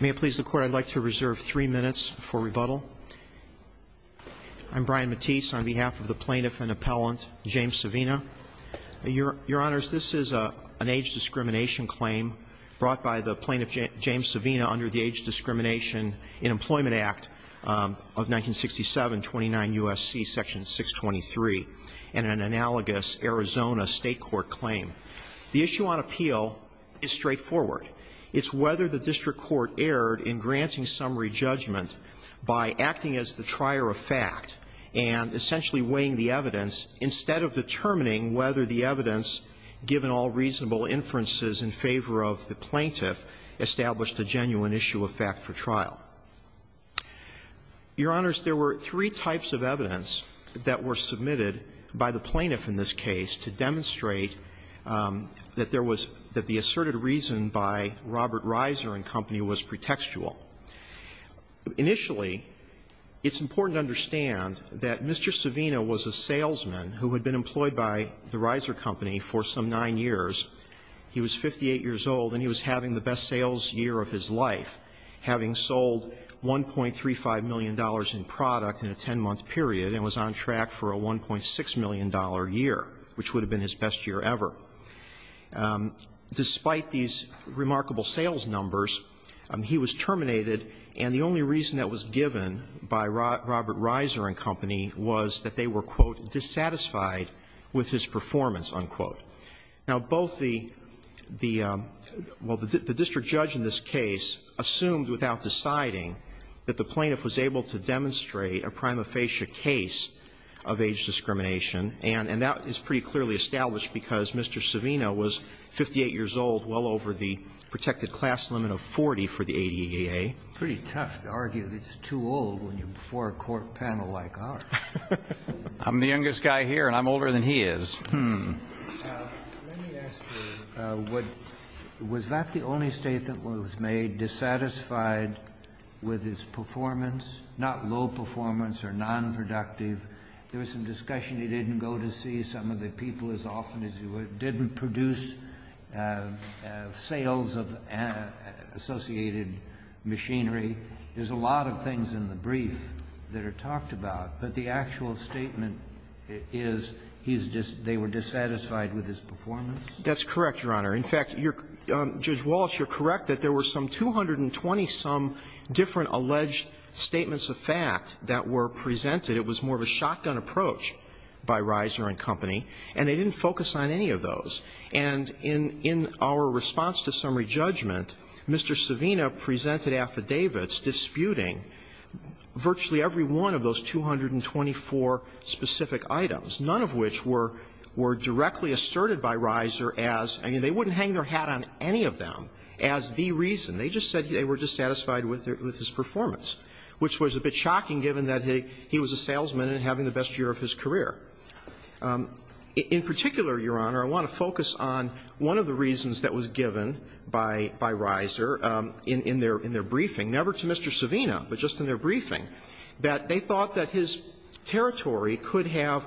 May it please the Court, I'd like to reserve three minutes for rebuttal. I'm Brian Matisse on behalf of the Plaintiff and Appellant James Savina. Your Honors, this is an age discrimination claim brought by the Plaintiff James Savina under the Age Discrimination in Employment Act of 1967, 29 U.S.C., Section 623, and an analogous Arizona State Court claim. The issue on appeal is straightforward. It's whether the district court erred in granting summary judgment by acting as the trier of fact and essentially weighing the evidence instead of determining whether the evidence, given all reasonable inferences in favor of the plaintiff, established a genuine issue of fact for trial. Your Honors, there were three types of evidence that were submitted by the plaintiff in this case to demonstrate that there was the asserted reason by Robert Reiser & Company was pretextual. Initially, it's important to understand that Mr. Savina was a salesman who had been employed by the Reiser & Company for some nine years. He was 58 years old, and he was having the best sales year of his life, having sold $1.35 million in product in a 10-month period and was on track for a $1.6 million year, which would have been his best year ever. Despite these remarkable sales numbers, he was terminated, and the only reason that was given by Robert Reiser & Company was that they were, quote, dissatisfied with his performance, unquote. Now, both the the well, the district judge in this case assumed without deciding that the plaintiff was able to demonstrate a prima facie case of age discrimination, and that is pretty clearly established because Mr. Savina was 58 years old, well over the protected class limit of 40 for the ADEA. It's pretty tough to argue that it's too old when you're before a court panel like ours. I'm the youngest guy here, and I'm older than he is. Let me ask you, was that the only statement that was made, dissatisfied with his performance, not low performance or nonproductive? There was some discussion he didn't go to see some of the people as often as he would, didn't produce sales of associated machinery. There's a lot of things in the brief that are talked about, but the actual statement is he's just, they were dissatisfied with his performance? That's correct, Your Honor. In fact, you're, Judge Wallace, you're correct that there were some 220-some different alleged statements of fact that were presented. It was more of a shotgun approach by Reiser & Company, and they didn't focus on any of those. And in our response to summary judgment, Mr. Savina presented affidavits disputing virtually every one of those 224 specific items, none of which were directly asserted by Reiser as, I mean, they wouldn't hang their hat on any of them, as the reason. They just said they were dissatisfied with his performance, which was a bit shocking given that he was a salesman and having the best year of his career. In particular, Your Honor, I want to focus on one of the reasons that was given by Reiser in their briefing, never to Mr. Savina, but just in their briefing, that they thought that his territory could have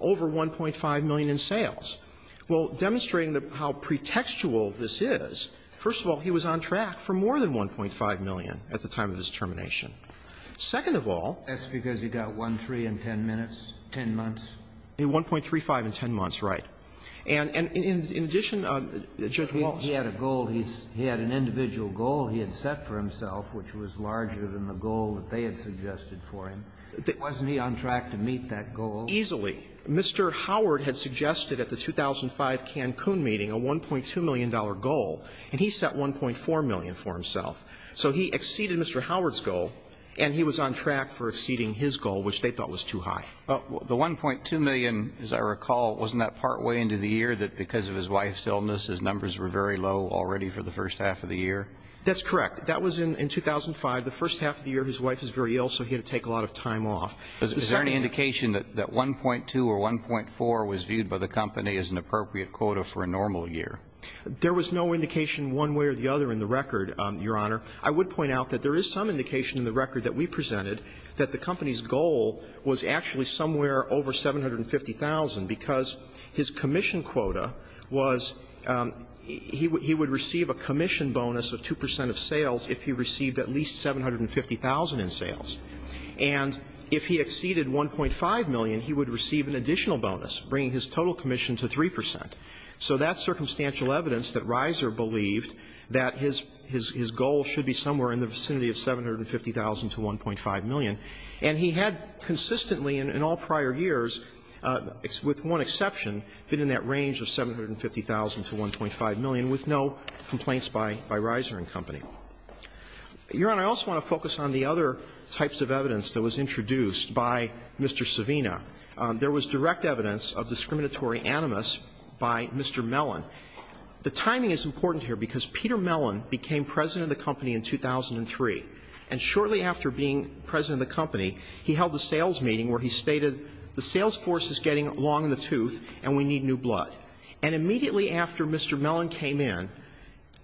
over $1.5 million in sales. Well, demonstrating how pretextual this is, first of all, he was on track for more than $1.5 million at the time of his termination. Second of all. That's because he got 1.3 in 10 minutes, 10 months. 1.35 in 10 months, right. And in addition, Judge Walz. He had a goal. He had an individual goal he had set for himself, which was larger than the goal that they had suggested for him. Wasn't he on track to meet that goal? Easily. Mr. Howard had suggested at the 2005 Cancun meeting a $1.2 million goal, and he set $1.4 million for himself. So he exceeded Mr. Howard's goal, and he was on track for exceeding his goal, which they thought was too high. But the $1.2 million, as I recall, wasn't that partway into the year that because of his wife's illness his numbers were very low already for the first half of the year? That's correct. That was in 2005, the first half of the year his wife is very ill, so he had to take a lot of time off. Is there any indication that 1.2 or 1.4 was viewed by the company as an appropriate quota for a normal year? There was no indication one way or the other in the record, Your Honor. I would point out that there is some indication in the record that we presented that the company's goal was actually somewhere over $750,000, because his commission quota was he would receive a commission bonus of 2 percent of sales if he received at least $750,000 in sales. And if he exceeded $1.5 million, he would receive an additional bonus, bringing his total commission to 3 percent. So that's circumstantial evidence that Reiser believed that his goal should be somewhere in the vicinity of $750,000 to $1.5 million. And he had consistently in all prior years, with one exception, been in that range of $750,000 to $1.5 million with no complaints by Reiser and company. Your Honor, I also want to focus on the other types of evidence that was introduced by Mr. Savina. There was direct evidence of discriminatory animus by Mr. Mellon. The timing is important here because Peter Mellon became president of the company in 2003, and shortly after being president of the company, he held a sales meeting where he stated the sales force is getting long in the tooth and we need new blood. And immediately after Mr. Mellon came in,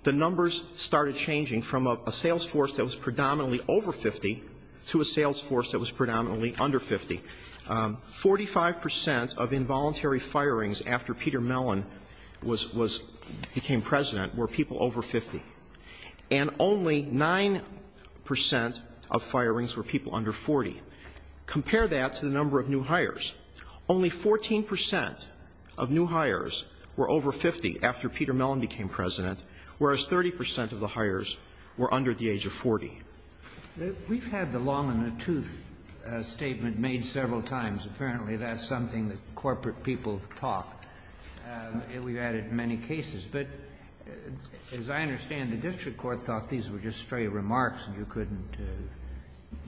the numbers started changing from a sales force that was predominantly over 50 to a sales force that was predominantly under 50. Forty-five percent of involuntary firings after Peter Mellon was became president were people over 50, and only 9 percent of firings were people under 40. Compare that to the number of new hires. Only 14 percent of new hires were over 50 after Peter Mellon became president, whereas 30 percent of the hires were under the age of 40. We've had the long in the tooth statement made several times. Apparently, that's something that corporate people talk. We've had it in many cases. But as I understand, the district court thought these were just stray remarks and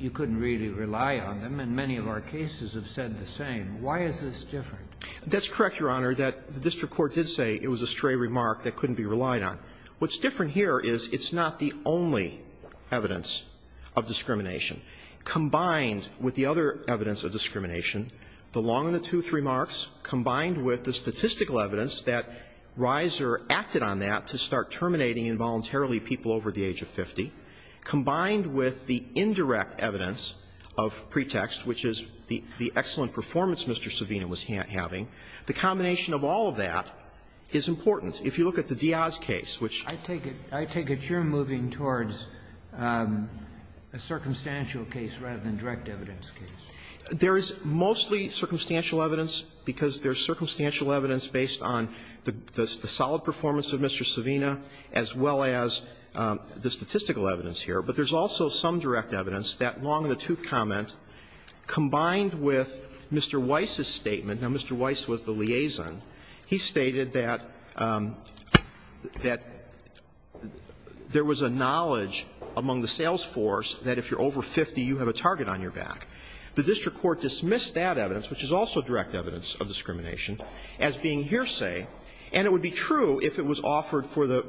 you couldn't really rely on them, and many of our cases have said the same. Why is this different? That's correct, Your Honor, that the district court did say it was a stray remark that couldn't be relied on. What's different here is it's not the only evidence of discrimination. Combined with the other evidence of discrimination, the long in the tooth remarks combined with the statistical evidence that Reiser acted on that to start terminating involuntarily people over the age of 50, combined with the indirect evidence of pretext, which is the excellent performance Mr. Savino was having, the combination of all of that is important. If you look at the Diaz case, which you're moving towards a circumstantial case rather than direct evidence case. There is mostly circumstantial evidence, because there's circumstantial evidence based on the solid performance of Mr. Savino as well as the statistical evidence here. But there's also some direct evidence, that long in the tooth comment, combined with Mr. Weiss's statement. Now, Mr. Weiss was the liaison. He stated that there was a knowledge among the sales force that if you're over 50, you have a target on your back. The district court dismissed that evidence, which is also direct evidence of discrimination, as being hearsay. And it would be true if it was offered for the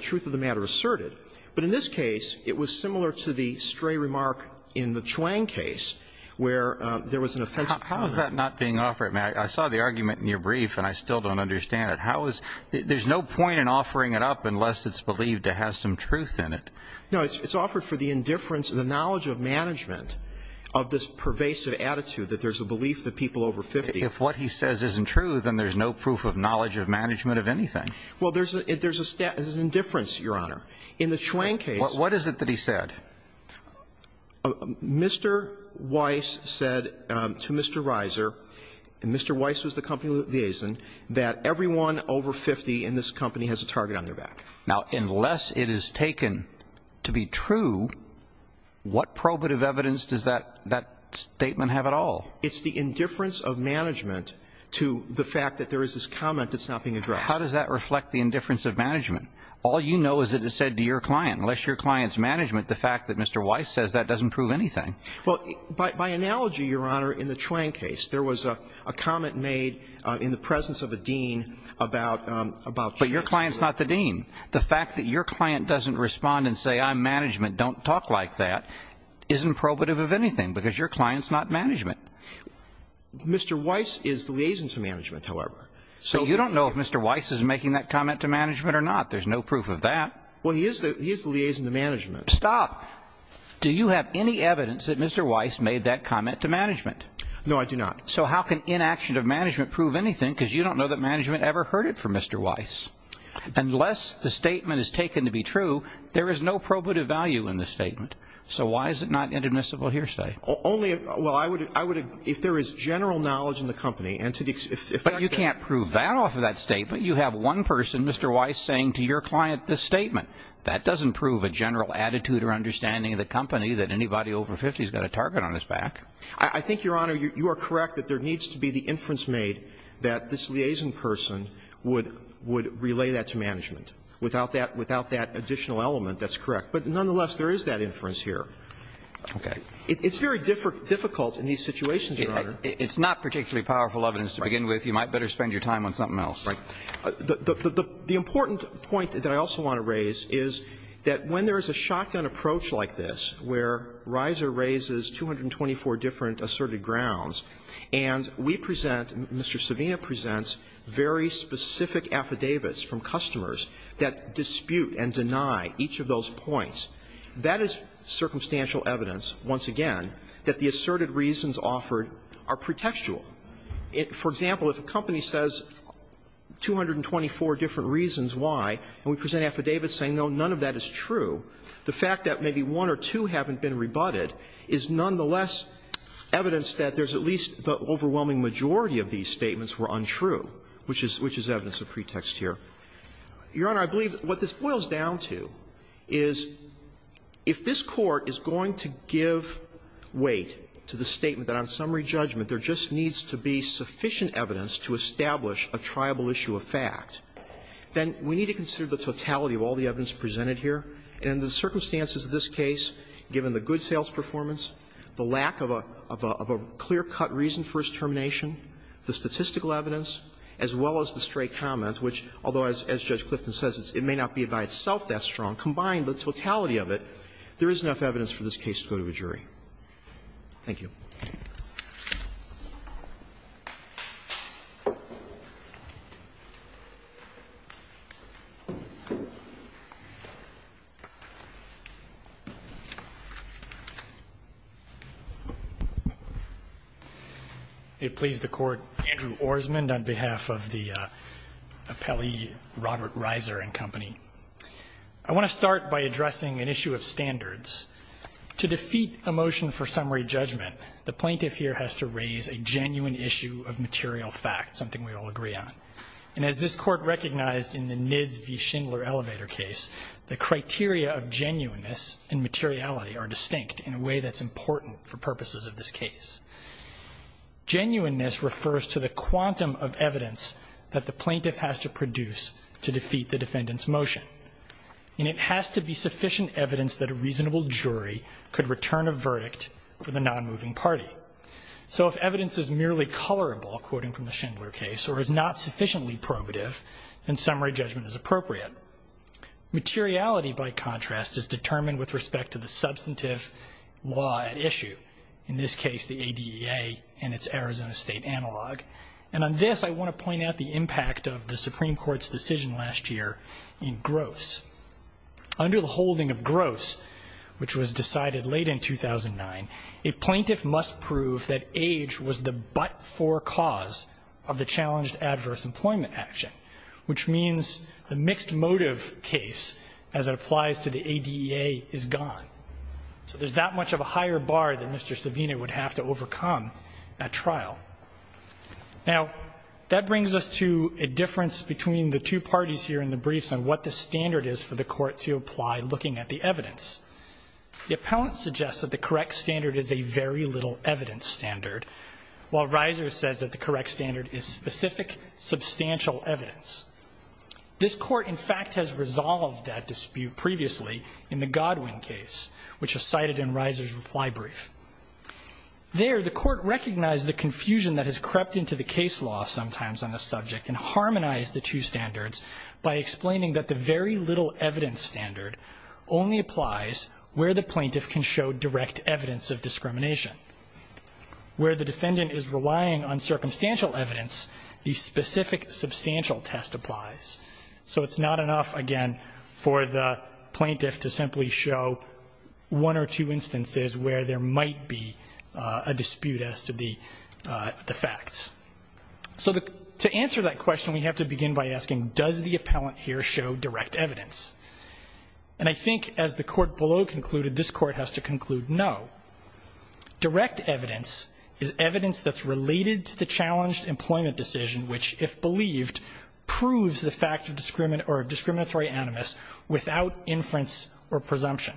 truth of the matter asserted. But in this case, it was similar to the stray remark in the Chuang case where there was an offensive comment. Now, if that's not being offered, I saw the argument in your brief, and I still don't understand it. How is there's no point in offering it up unless it's believed to have some truth in it. No. It's offered for the indifference and the knowledge of management of this pervasive attitude that there's a belief that people over 50. If what he says isn't true, then there's no proof of knowledge of management of anything. Well, there's a indifference, Your Honor. In the Chuang case. What is it that he said? Mr. Weiss said to Mr. Reiser, and Mr. Weiss was the company liaison, that everyone over 50 in this company has a target on their back. Now, unless it is taken to be true, what probative evidence does that statement have at all? It's the indifference of management to the fact that there is this comment that's not being addressed. How does that reflect the indifference of management? All you know is that it's said to your client. Unless your client's management, the fact that Mr. Weiss says that doesn't prove anything. Well, by analogy, Your Honor, in the Chuang case, there was a comment made in the presence of a dean about Chuang's case. But your client's not the dean. The fact that your client doesn't respond and say, I'm management, don't talk like that, isn't probative of anything, because your client's not management. Mr. Weiss is the liaison to management, however. So you don't know if Mr. Weiss is making that comment to management or not. There's no proof of that. Well, he is the liaison to management. Stop. Do you have any evidence that Mr. Weiss made that comment to management? No, I do not. So how can inaction of management prove anything, because you don't know that management ever heard it from Mr. Weiss? Unless the statement is taken to be true, there is no probative value in the statement. So why is it not inadmissible hearsay? Only, well, I would, if there is general knowledge in the company, and to the extent that- But you can't prove that off of that statement. You have one person, Mr. Weiss, saying to your client this statement. That doesn't prove a general attitude or understanding of the company that anybody over 50 has got a target on his back. I think, Your Honor, you are correct that there needs to be the inference made that this liaison person would relay that to management. Without that additional element, that's correct. But nonetheless, there is that inference here. Okay. It's very difficult in these situations, Your Honor. It's not particularly powerful evidence to begin with. You might better spend your time on something else. The important point that I also want to raise is that when there is a shotgun approach like this, where Reiser raises 224 different asserted grounds, and we present Mr. Savino presents very specific affidavits from customers that dispute and deny each of those points, that is circumstantial evidence, once again, that the asserted reasons offered are pretextual. For example, if a company says 224 different reasons why, and we present affidavits saying, no, none of that is true, the fact that maybe one or two haven't been rebutted is nonetheless evidence that there's at least the overwhelming majority of these statements were untrue, which is evidence of pretext here. Your Honor, I believe what this boils down to is if this Court is going to give weight to the statement that on summary judgment there just needs to be sufficient evidence to establish a triable issue of fact, then we need to consider the totality of all the evidence presented here, and in the circumstances of this case, given the good sales performance, the lack of a clear-cut reason for his termination, the statistical evidence, as well as the stray comment, which, although, as Judge O'Connor said, is not the case, is not the case. Thank you. Roberts. They please the Court. Andrew Orsmond on behalf of the Appellee Robert Riser and Company. I want to start by addressing an issue of standards. To defeat a motion for summary judgment, the plaintiff here has to raise a genuine issue of material fact, something we all agree on. And as this Court recognized in the Nids v. Schindler elevator case, the criteria of genuineness and materiality are distinct in a way that's important for purposes of this case. Genuineness refers to the quantum of evidence that the plaintiff has to produce to defeat the defendant's motion. And it has to be sufficient evidence that a reasonable jury could return a verdict for the non-moving party. So if evidence is merely colorable, quoting from the Schindler case, or is not sufficiently probative, then summary judgment is appropriate. Materiality, by contrast, is determined with respect to the substantive law at issue, in this case, the ADEA and its Arizona State analog. And on this, I want to point out the impact of the Supreme Court's decision last year in Gross. Under the holding of Gross, which was decided late in 2009, a plaintiff must prove that age was the but-for cause of the challenged adverse employment action, which means a mixed motive case, as it applies to the ADEA, is gone. So there's that much of a higher bar that Mr. Savino would have to overcome at trial. Now, that brings us to a difference between the two parties here in the briefs on what the standard is for the court to apply looking at the evidence. The appellant suggests that the correct standard is a very little evidence standard, while Reiser says that the correct standard is specific, substantial evidence. This court, in fact, has resolved that dispute previously in the Godwin case, which is cited in Reiser's reply brief. There, the court recognized the confusion that has crept into the case law sometimes on the subject and harmonized the two standards by explaining that the very little evidence standard only applies where the plaintiff can show direct evidence of discrimination. Where the defendant is relying on circumstantial evidence, the specific, substantial test applies. So it's not enough, again, for the plaintiff to simply show one or two instances where there might be a dispute as to the facts. So to answer that question, we have to begin by asking, does the appellant here show direct evidence? And I think, as the court below concluded, this court has to conclude no. Direct evidence is evidence that's related to the challenged employment decision, which, if believed, proves the fact of discriminatory animus without inference or presumption.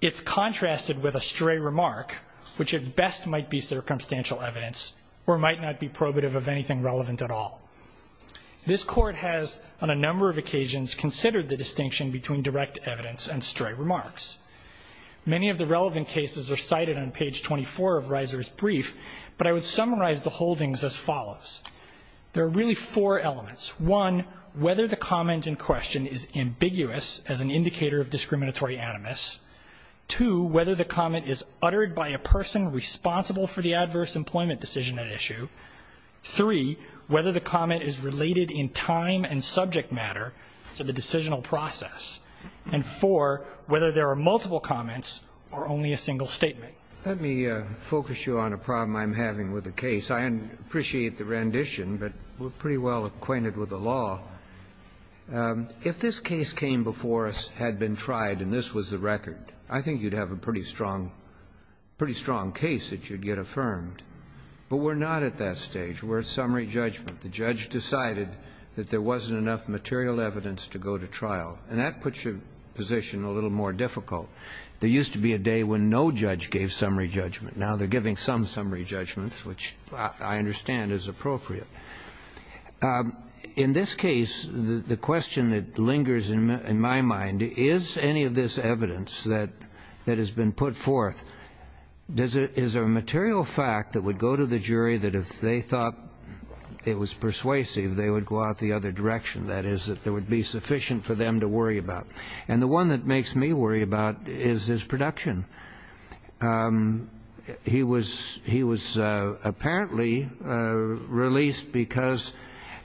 It's contrasted with a stray remark, which at best might be circumstantial evidence or might not be probative of anything relevant at all. This court has, on a number of occasions, considered the distinction between direct evidence and stray remarks. Many of the relevant cases are cited on page 24 of Reiser's brief, but I would summarize the holdings as follows. There are really four elements. One, whether the comment in question is ambiguous as an indicator of discriminatory animus. Two, whether the comment is uttered by a person responsible for the adverse employment decision at issue. Three, whether the comment is related in time and subject matter to the decisional process. And four, whether there are multiple comments or only a single statement. Let me focus you on a problem I'm having with the case. I appreciate the rendition, but we're pretty well acquainted with the law. If this case came before us, had been tried, and this was the record, I think you'd have a pretty strong case that you'd get affirmed. But we're not at that stage. We're at summary judgment. The judge decided that there wasn't enough material evidence to go to trial. And that puts your position a little more difficult. There used to be a day when no judge gave summary judgment. Now they're giving some summary judgments, which I understand is appropriate. In this case, the question that lingers in my mind, is any of this evidence that has been put forth, is there a material fact that would go to the jury that if they thought it was persuasive, they would go out the other direction? That is, that there would be sufficient for them to worry about. And the one that makes me worry about is his production. He was apparently released because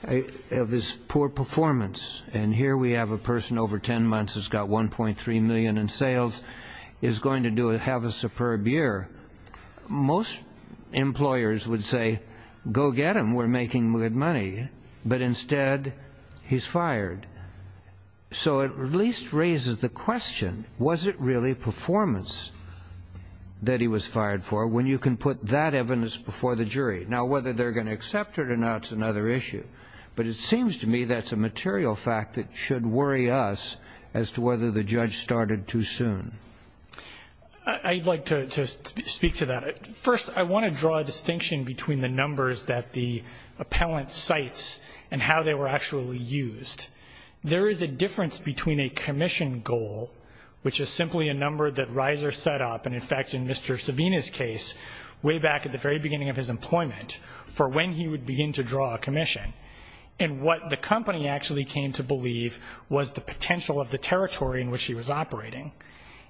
of his poor performance. And here we have a person over 10 months who's got $1.3 million in sales, is going to have a superb year. Most employers would say, go get him, we're making good money. But instead, he's fired. So it at least raises the question, was it really performance that he was fired for, when you can put that evidence before the jury? Now whether they're going to accept it or not is another issue. But it seems to me that's a material fact that should worry us as to whether the judge started too soon. I'd like to speak to that. First, I want to draw a distinction between the numbers that the appellant cites and how they were actually used. There is a difference between a commission goal, which is simply a number that Reiser set up, and in fact, in Mr. Savina's case, way back at the very beginning of his employment, for when he would begin to draw a commission. And what the company actually came to believe was the potential of the territory in which he was operating.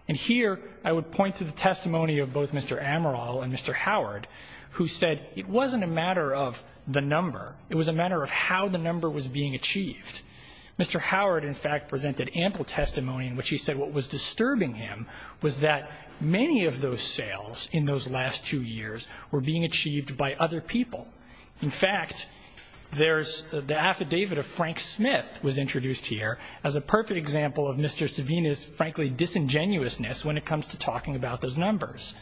And here, I would point to the testimony of both Mr. Amaral and Mr. Howard, who said it wasn't a matter of the number. It was a matter of how the number was being achieved. Mr. Howard, in fact, presented ample testimony in which he said what was disturbing him was that many of those sales in those last two years were being achieved by other people. In fact, the affidavit of Frank Smith was introduced here as a perfect example of Mr. Savina's, frankly, disingenuousness when it comes to talking about those numbers.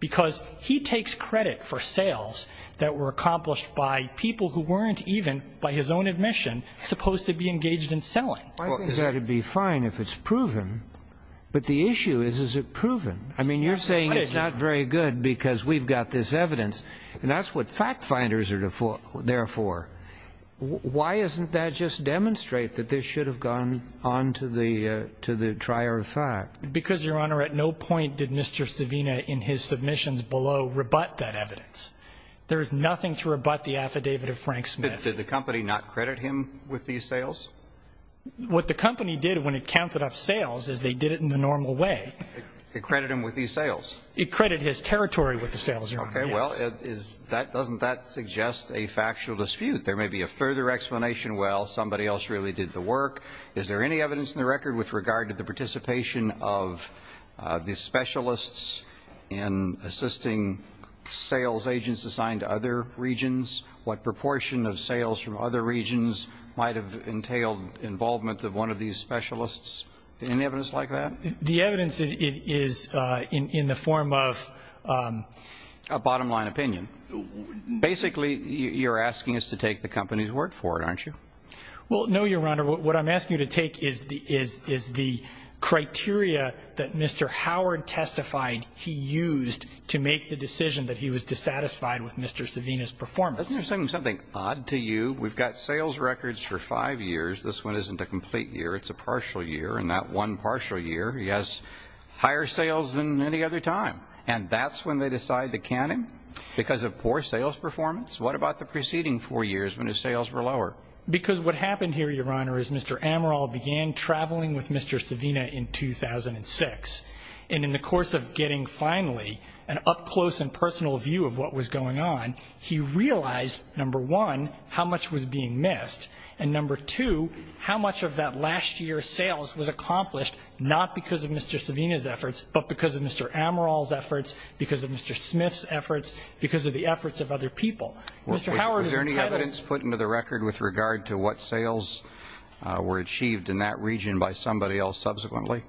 Because he takes credit for sales that were accomplished by people who weren't even, by the way, engaged in selling. Well, I think that would be fine if it's proven. But the issue is, is it proven? I mean, you're saying it's not very good because we've got this evidence, and that's what fact finders are there for. Why isn't that just demonstrate that this should have gone on to the trier of fact? Because, Your Honor, at no point did Mr. Savina, in his submissions below, rebut that evidence. There is nothing to rebut the affidavit of Frank Smith. Did the company not credit him with these sales? What the company did when it counted up sales is they did it in the normal way. It credited him with these sales? It credited his territory with the sales, Your Honor, yes. Okay. Well, doesn't that suggest a factual dispute? There may be a further explanation. Well, somebody else really did the work. Is there any evidence in the record with regard to the participation of the specialists in assisting sales agents assigned to other regions? What proportion of sales from other regions might have entailed involvement of one of these specialists? Any evidence like that? The evidence is in the form of? A bottom line opinion. Basically, you're asking us to take the company's word for it, aren't you? Well, no, Your Honor. What I'm asking you to take is the criteria that Mr. Howard testified he used to make the decision that he was dissatisfied with Mr. Savina's performance. Something odd to you. We've got sales records for five years. This one isn't a complete year. It's a partial year. And that one partial year, he has higher sales than any other time. And that's when they decide to count him? Because of poor sales performance? What about the preceding four years when his sales were lower? Because what happened here, Your Honor, is Mr. Amaral began traveling with Mr. Savina in 2006. And in the course of getting finally an up-close-and-personal view of what was going on, he realized, number one, how much was being missed. And number two, how much of that last year's sales was accomplished not because of Mr. Savina's efforts, but because of Mr. Amaral's efforts, because of Mr. Smith's efforts, because of the efforts of other people. Mr. Howard is entitled— Was there any evidence put into the record with regard to what sales were achieved in that region by somebody else subsequently?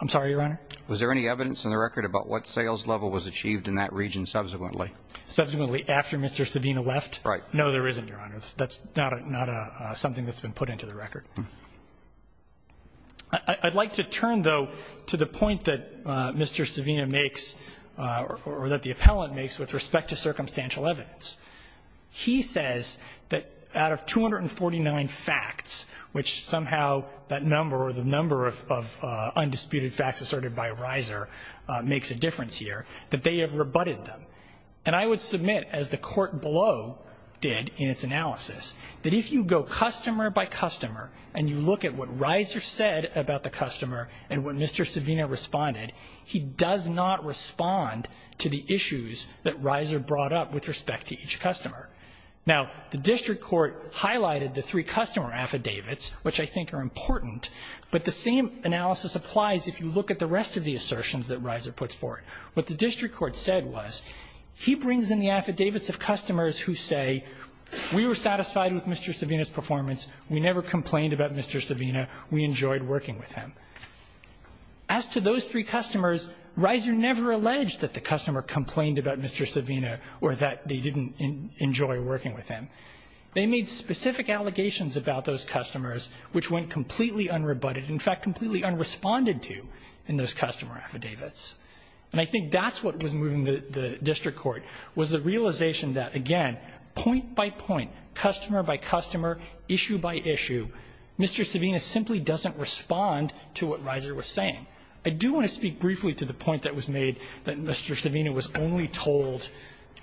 I'm sorry, Your Honor? Was there any evidence in the record about what sales level was achieved in that region subsequently? Subsequently after Mr. Savina left? Right. No, there isn't, Your Honor. That's not something that's been put into the record. I'd like to turn, though, to the point that Mr. Savina makes or that the appellant makes with respect to circumstantial evidence. He says that out of 249 facts, which somehow that number or the number of undisputed facts asserted by Reiser makes a difference here, that they have rebutted them. And I would submit, as the court below did in its analysis, that if you go customer by customer and you look at what Reiser said about the customer and what Mr. Savina responded, he does not respond to the issues that Reiser brought up with respect to each customer. Now, the district court highlighted the three customer affidavits, which I think are important, but I'd like to look at the rest of the assertions that Reiser puts forward. What the district court said was he brings in the affidavits of customers who say, we were satisfied with Mr. Savina's performance. We never complained about Mr. Savina. We enjoyed working with him. As to those three customers, Reiser never alleged that the customer complained about Mr. Savina or that they didn't enjoy working with him. They made specific allegations about those customers, which went completely unrebutted, in fact, completely unresponded to in those customer affidavits. And I think that's what was moving the district court, was the realization that, again, point by point, customer by customer, issue by issue, Mr. Savina simply doesn't respond to what Reiser was saying. I do want to speak briefly to the point that was made that Mr. Savina was only told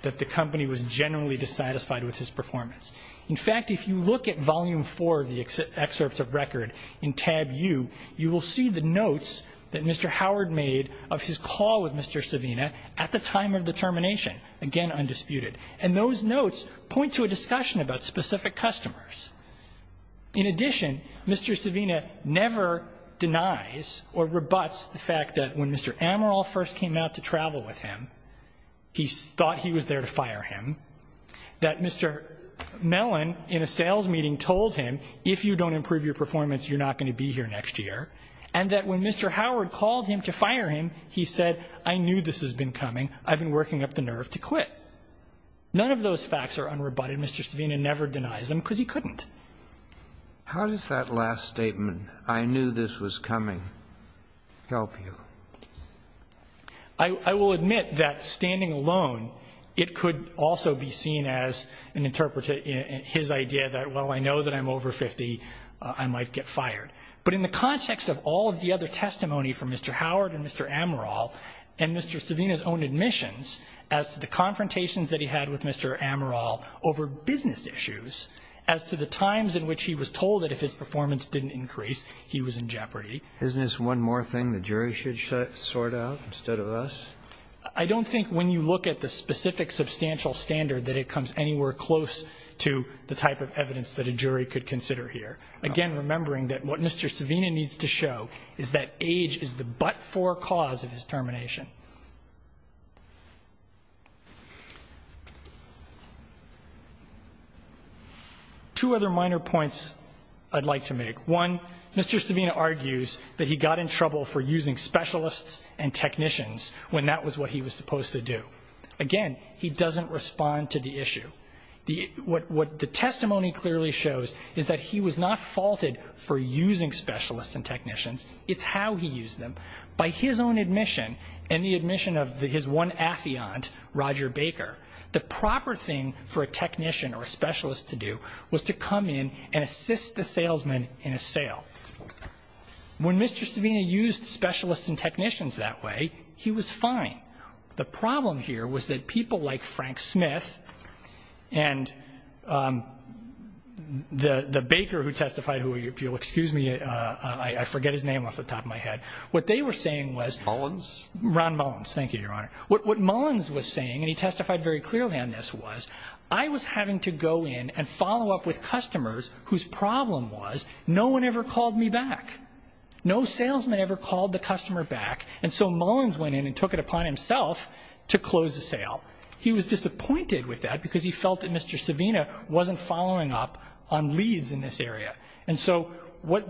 that the company was genuinely dissatisfied with his performance. In fact, if you look at volume four of the excerpts of record in tab U, you will see the notes that Mr. Howard made of his call with Mr. Savina at the time of the termination, again, undisputed. And those notes point to a discussion about specific customers. In addition, Mr. Savina never denies or rebuts the fact that when Mr. Amaral first came out to travel with him, he thought he was there to fire him. That Mr. Mellon, in a sales meeting, told him, if you don't improve your performance, you're not going to be here next year. And that when Mr. Howard called him to fire him, he said, I knew this has been coming. I've been working up the nerve to quit. None of those facts are unrebutted. Mr. Savina never denies them because he couldn't. How does that last statement, I knew this was coming, help you? I will admit that standing alone, it could also be seen as an interpretative his idea that, well, I know that I'm over 50, I might get fired. But in the context of all of the other testimony from Mr. Howard and Mr. Amaral and Mr. Savina's own admissions as to the confrontations that he had with Mr. Amaral over business issues, as to the times in which he was told that if his performance didn't increase, he was in jeopardy. Isn't this one more thing the jury should sort out instead of us? I don't think when you look at the specific substantial standard, that it comes anywhere close to the type of evidence that a jury could consider here. Again, remembering that what Mr. Savina needs to show is that age is the but-for cause of his termination. Two other minor points I'd like to make. One, Mr. Savina argues that he got in trouble for using specialists and technicians when that was what he was supposed to do. Again, he doesn't respond to the issue. What the testimony clearly shows is that he was not faulted for using specialists and technicians, it's how he used them. By his own admission and the admission of his one affiant, Roger Baker, the proper thing for a technician or a specialist to do was to come in and assist the salesman in a sale. When Mr. Savina used specialists and technicians that way, he was fine. The problem here was that people like Frank Smith and the baker who testified, who if you'll excuse me, I forget his name off the top of my head. What they were saying was... Mullins. Ron Mullins. Thank you, Your Honor. What Mullins was saying, and he testified very clearly on this, was I was having to go in and follow up with customers whose problem was no one ever called me back. No salesman ever called the customer back. And so Mullins went in and took it upon himself to close the sale. He was disappointed with that because he felt that Mr. Savina wasn't following up on leads in this area. And so what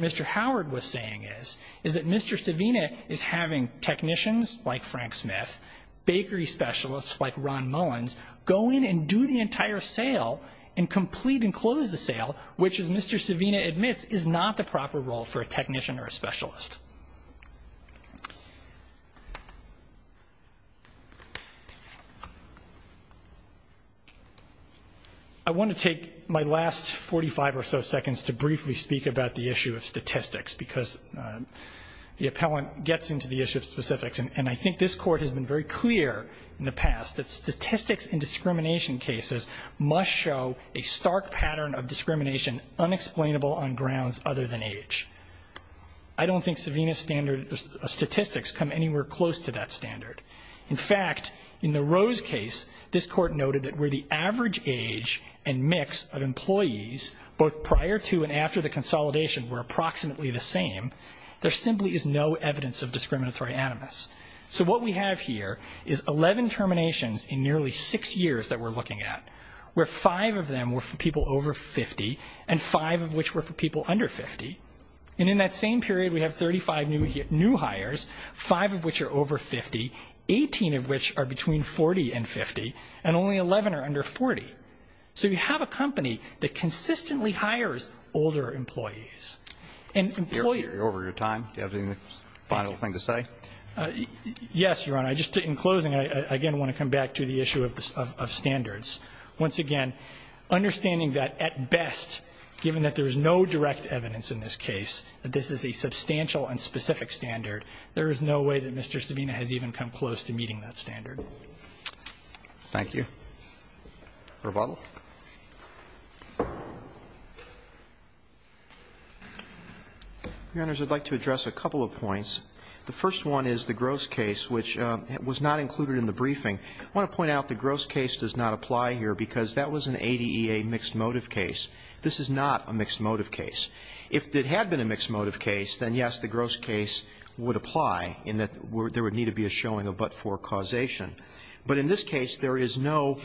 Mr. Howard was saying is, that Mr. Savina is having technicians like Frank Smith, bakery specialists like Ron Mullins, go in and do the entire sale and complete and close the sale, which as Mr. Savina admits is not the proper role for a technician or a specialist. I want to take my last 45 or so seconds to briefly speak about the issue of statistics because the appellant gets into the issue of specifics. And I think this court has been very clear in the past that statistics in discrimination cases must show a stark pattern of discrimination unexplainable on grounds other than age. I don't think Savina's statistics come anywhere close to that standard. In fact, in the Rose case, this court noted that where the average age and mix of employees, both prior to and after the consolidation were approximately the same, there simply is no evidence of discriminatory animus. So what we have here is 11 terminations in nearly six years that we're looking at, where five of them were for people over 50 and five of which were for people under 50. And in that same period, we have 35 new hires, five of which are over 50, 18 of which are between 40 and 50, and only 11 are under 40. So you have a company that consistently hires older employees. And employers... You're over your time. Do you have any final thing to say? Yes, Your Honor. I just, in closing, I again want to come back to the issue of standards. Once again, understanding that at best, given that there is no direct evidence in this case, that this is a substantial and specific standard, there is no way that Mr. Savina has even come close to meeting that standard. Thank you. Rebuttal? Your Honors, I'd like to address a couple of points. The first one is the Gross case, which was not included in the briefing. I want to point out the Gross case does not apply here because that was an ADEA mixed motive case. This is not a mixed motive case. If it had been a mixed motive case, then yes, the Gross case would apply in that there would need to be a showing of but-for causation. But in this case, there is no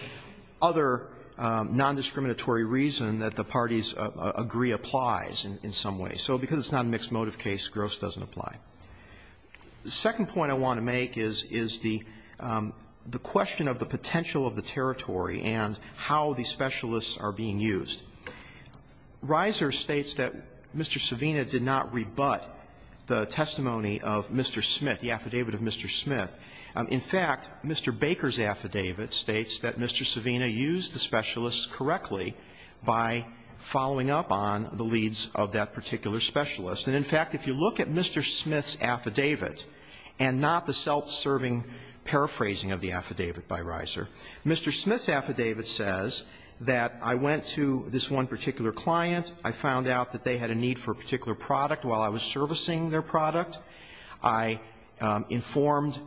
other non-discriminatory reason that the parties agree applies in some way. So because it's not a mixed motive case, Gross doesn't apply. The second point I want to make is the question of the potential of the territory and how the specialists are being used. Reiser states that Mr. Savina did not rebut the testimony of Mr. Smith, the affidavit of Mr. Smith. In fact, Mr. Baker's affidavit states that Mr. Savina used the specialists correctly by following up on the leads of that particular specialist. And in fact, if you look at Mr. Smith's affidavit, and not the self-serving paraphrasing of the affidavit by Reiser, Mr. Smith's affidavit says that I went to this one particular client. I found out that they had a need for a particular product while I was servicing their product. I informed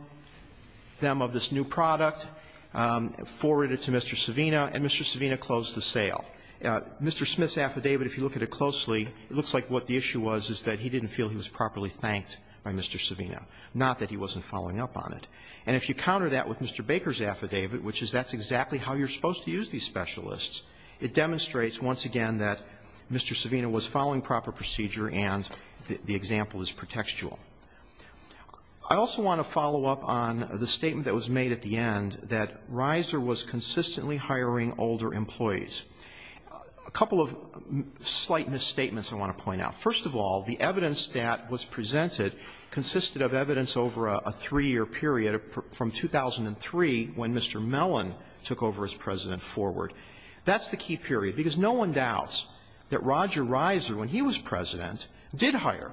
them of this new product, forwarded it to Mr. Savina, and Mr. Savina closed the sale. Mr. Smith's affidavit, if you look at it closely, it looks like what the issue was is that he didn't feel he was properly thanked by Mr. Savina, not that he wasn't following up on it. And if you counter that with Mr. Baker's affidavit, which is that's exactly how you're supposed to use these specialists, it demonstrates once again that Mr. Savina was following proper procedure and the example is pretextual. I also want to follow up on the statement that was made at the end that Reiser was consistently hiring older employees. A couple of slight misstatements I want to point out. First of all, the evidence that was presented consisted of evidence over a three-year period from 2003 when Mr. Mellon took over as president forward. That's the key period, because no one doubts that Roger Reiser, when he was president, did hire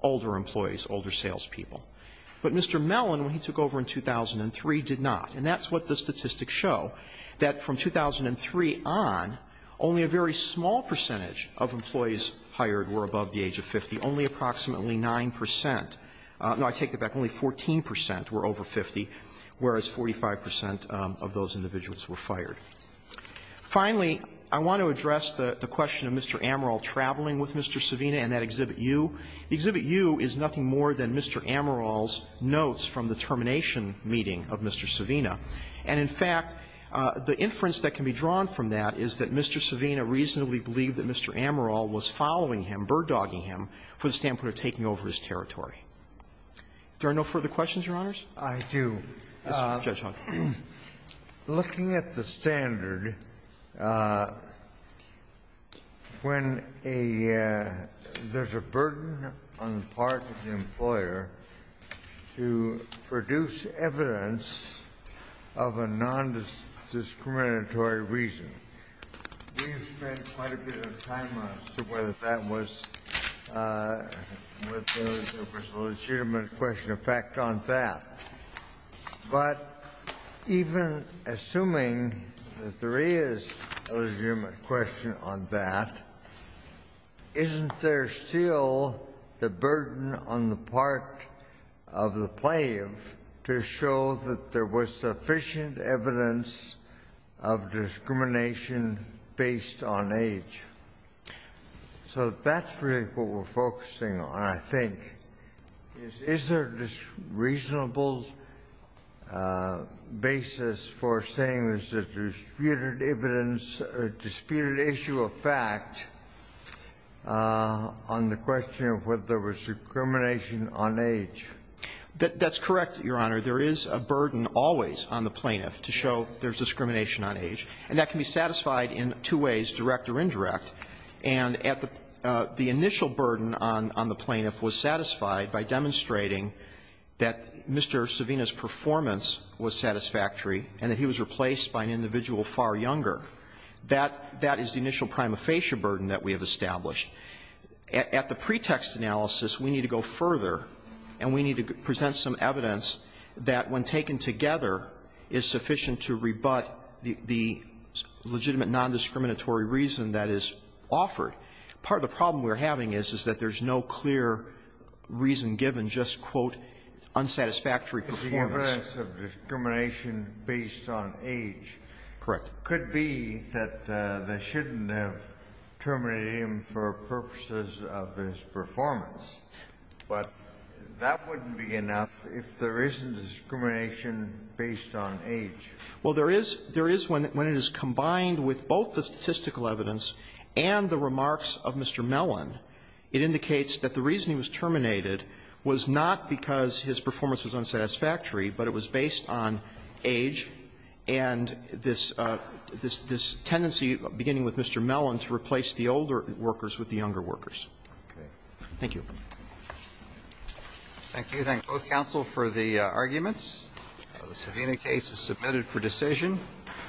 older employees, older salespeople. But Mr. Mellon, when he took over in 2003, did not. And that's what the statistics show, that from 2003 on, only a very small percentage of employees hired were above the age of 50, only approximately 9 percent. No, I take that back. Only 14 percent were over 50, whereas 45 percent of those individuals were fired. Finally, I want to address the question of Mr. Amaral traveling with Mr. Savina and that Exhibit U. The Exhibit U is nothing more than Mr. Amaral's notes from the termination meeting of Mr. Savina. And in fact, the inference that can be drawn from that is that Mr. Savina reasonably believed that Mr. Amaral was following him, bird-dogging him, for the standpoint of taking over his territory. Are there no further questions, Your Honors? I do. Mr. Judge Hawkins, please. Looking at the standard, when there's a burden on part of the employer to produce evidence of a nondiscriminatory reason, we have spent quite a bit of time as to whether that was a legitimate question. In fact, on that. But even assuming that there is a legitimate question on that, isn't there still the burden on the part of the plaid to show that there was sufficient evidence of discrimination based on age? So that's really what we're focusing on, I think. Is there a reasonable basis for saying that there's disputed evidence or disputed issue of fact on the question of whether there was discrimination on age? That's correct, Your Honor. There is a burden always on the plaintiff to show there's discrimination on age. And that can be satisfied in two ways, direct or indirect. And at the initial burden on the plaintiff was satisfied by demonstrating that Mr. Savino's performance was satisfactory and that he was replaced by an individual far younger. That is the initial prima facie burden that we have established. At the pretext analysis, we need to go further and we need to present some evidence that when taken together is sufficient to rebut the legitimate nondiscriminatory reason that is offered. Part of the problem we're having is, is that there's no clear reason given, just, quote, unsatisfactory performance. The evidence of discrimination based on age could be that they shouldn't have terminated him for purposes of his performance. But that wouldn't be enough if there isn't discrimination based on age. Well, there is when it is combined with both the statistical evidence and the remarks of Mr. Mellon, it indicates that the reason he was terminated was not because his performance was unsatisfactory, but it was based on age and this tendency beginning with Mr. Mellon to replace the older workers with the younger workers. Thank you. Thank you. Thank both counsel for the arguments. The Savina case is submitted for decision.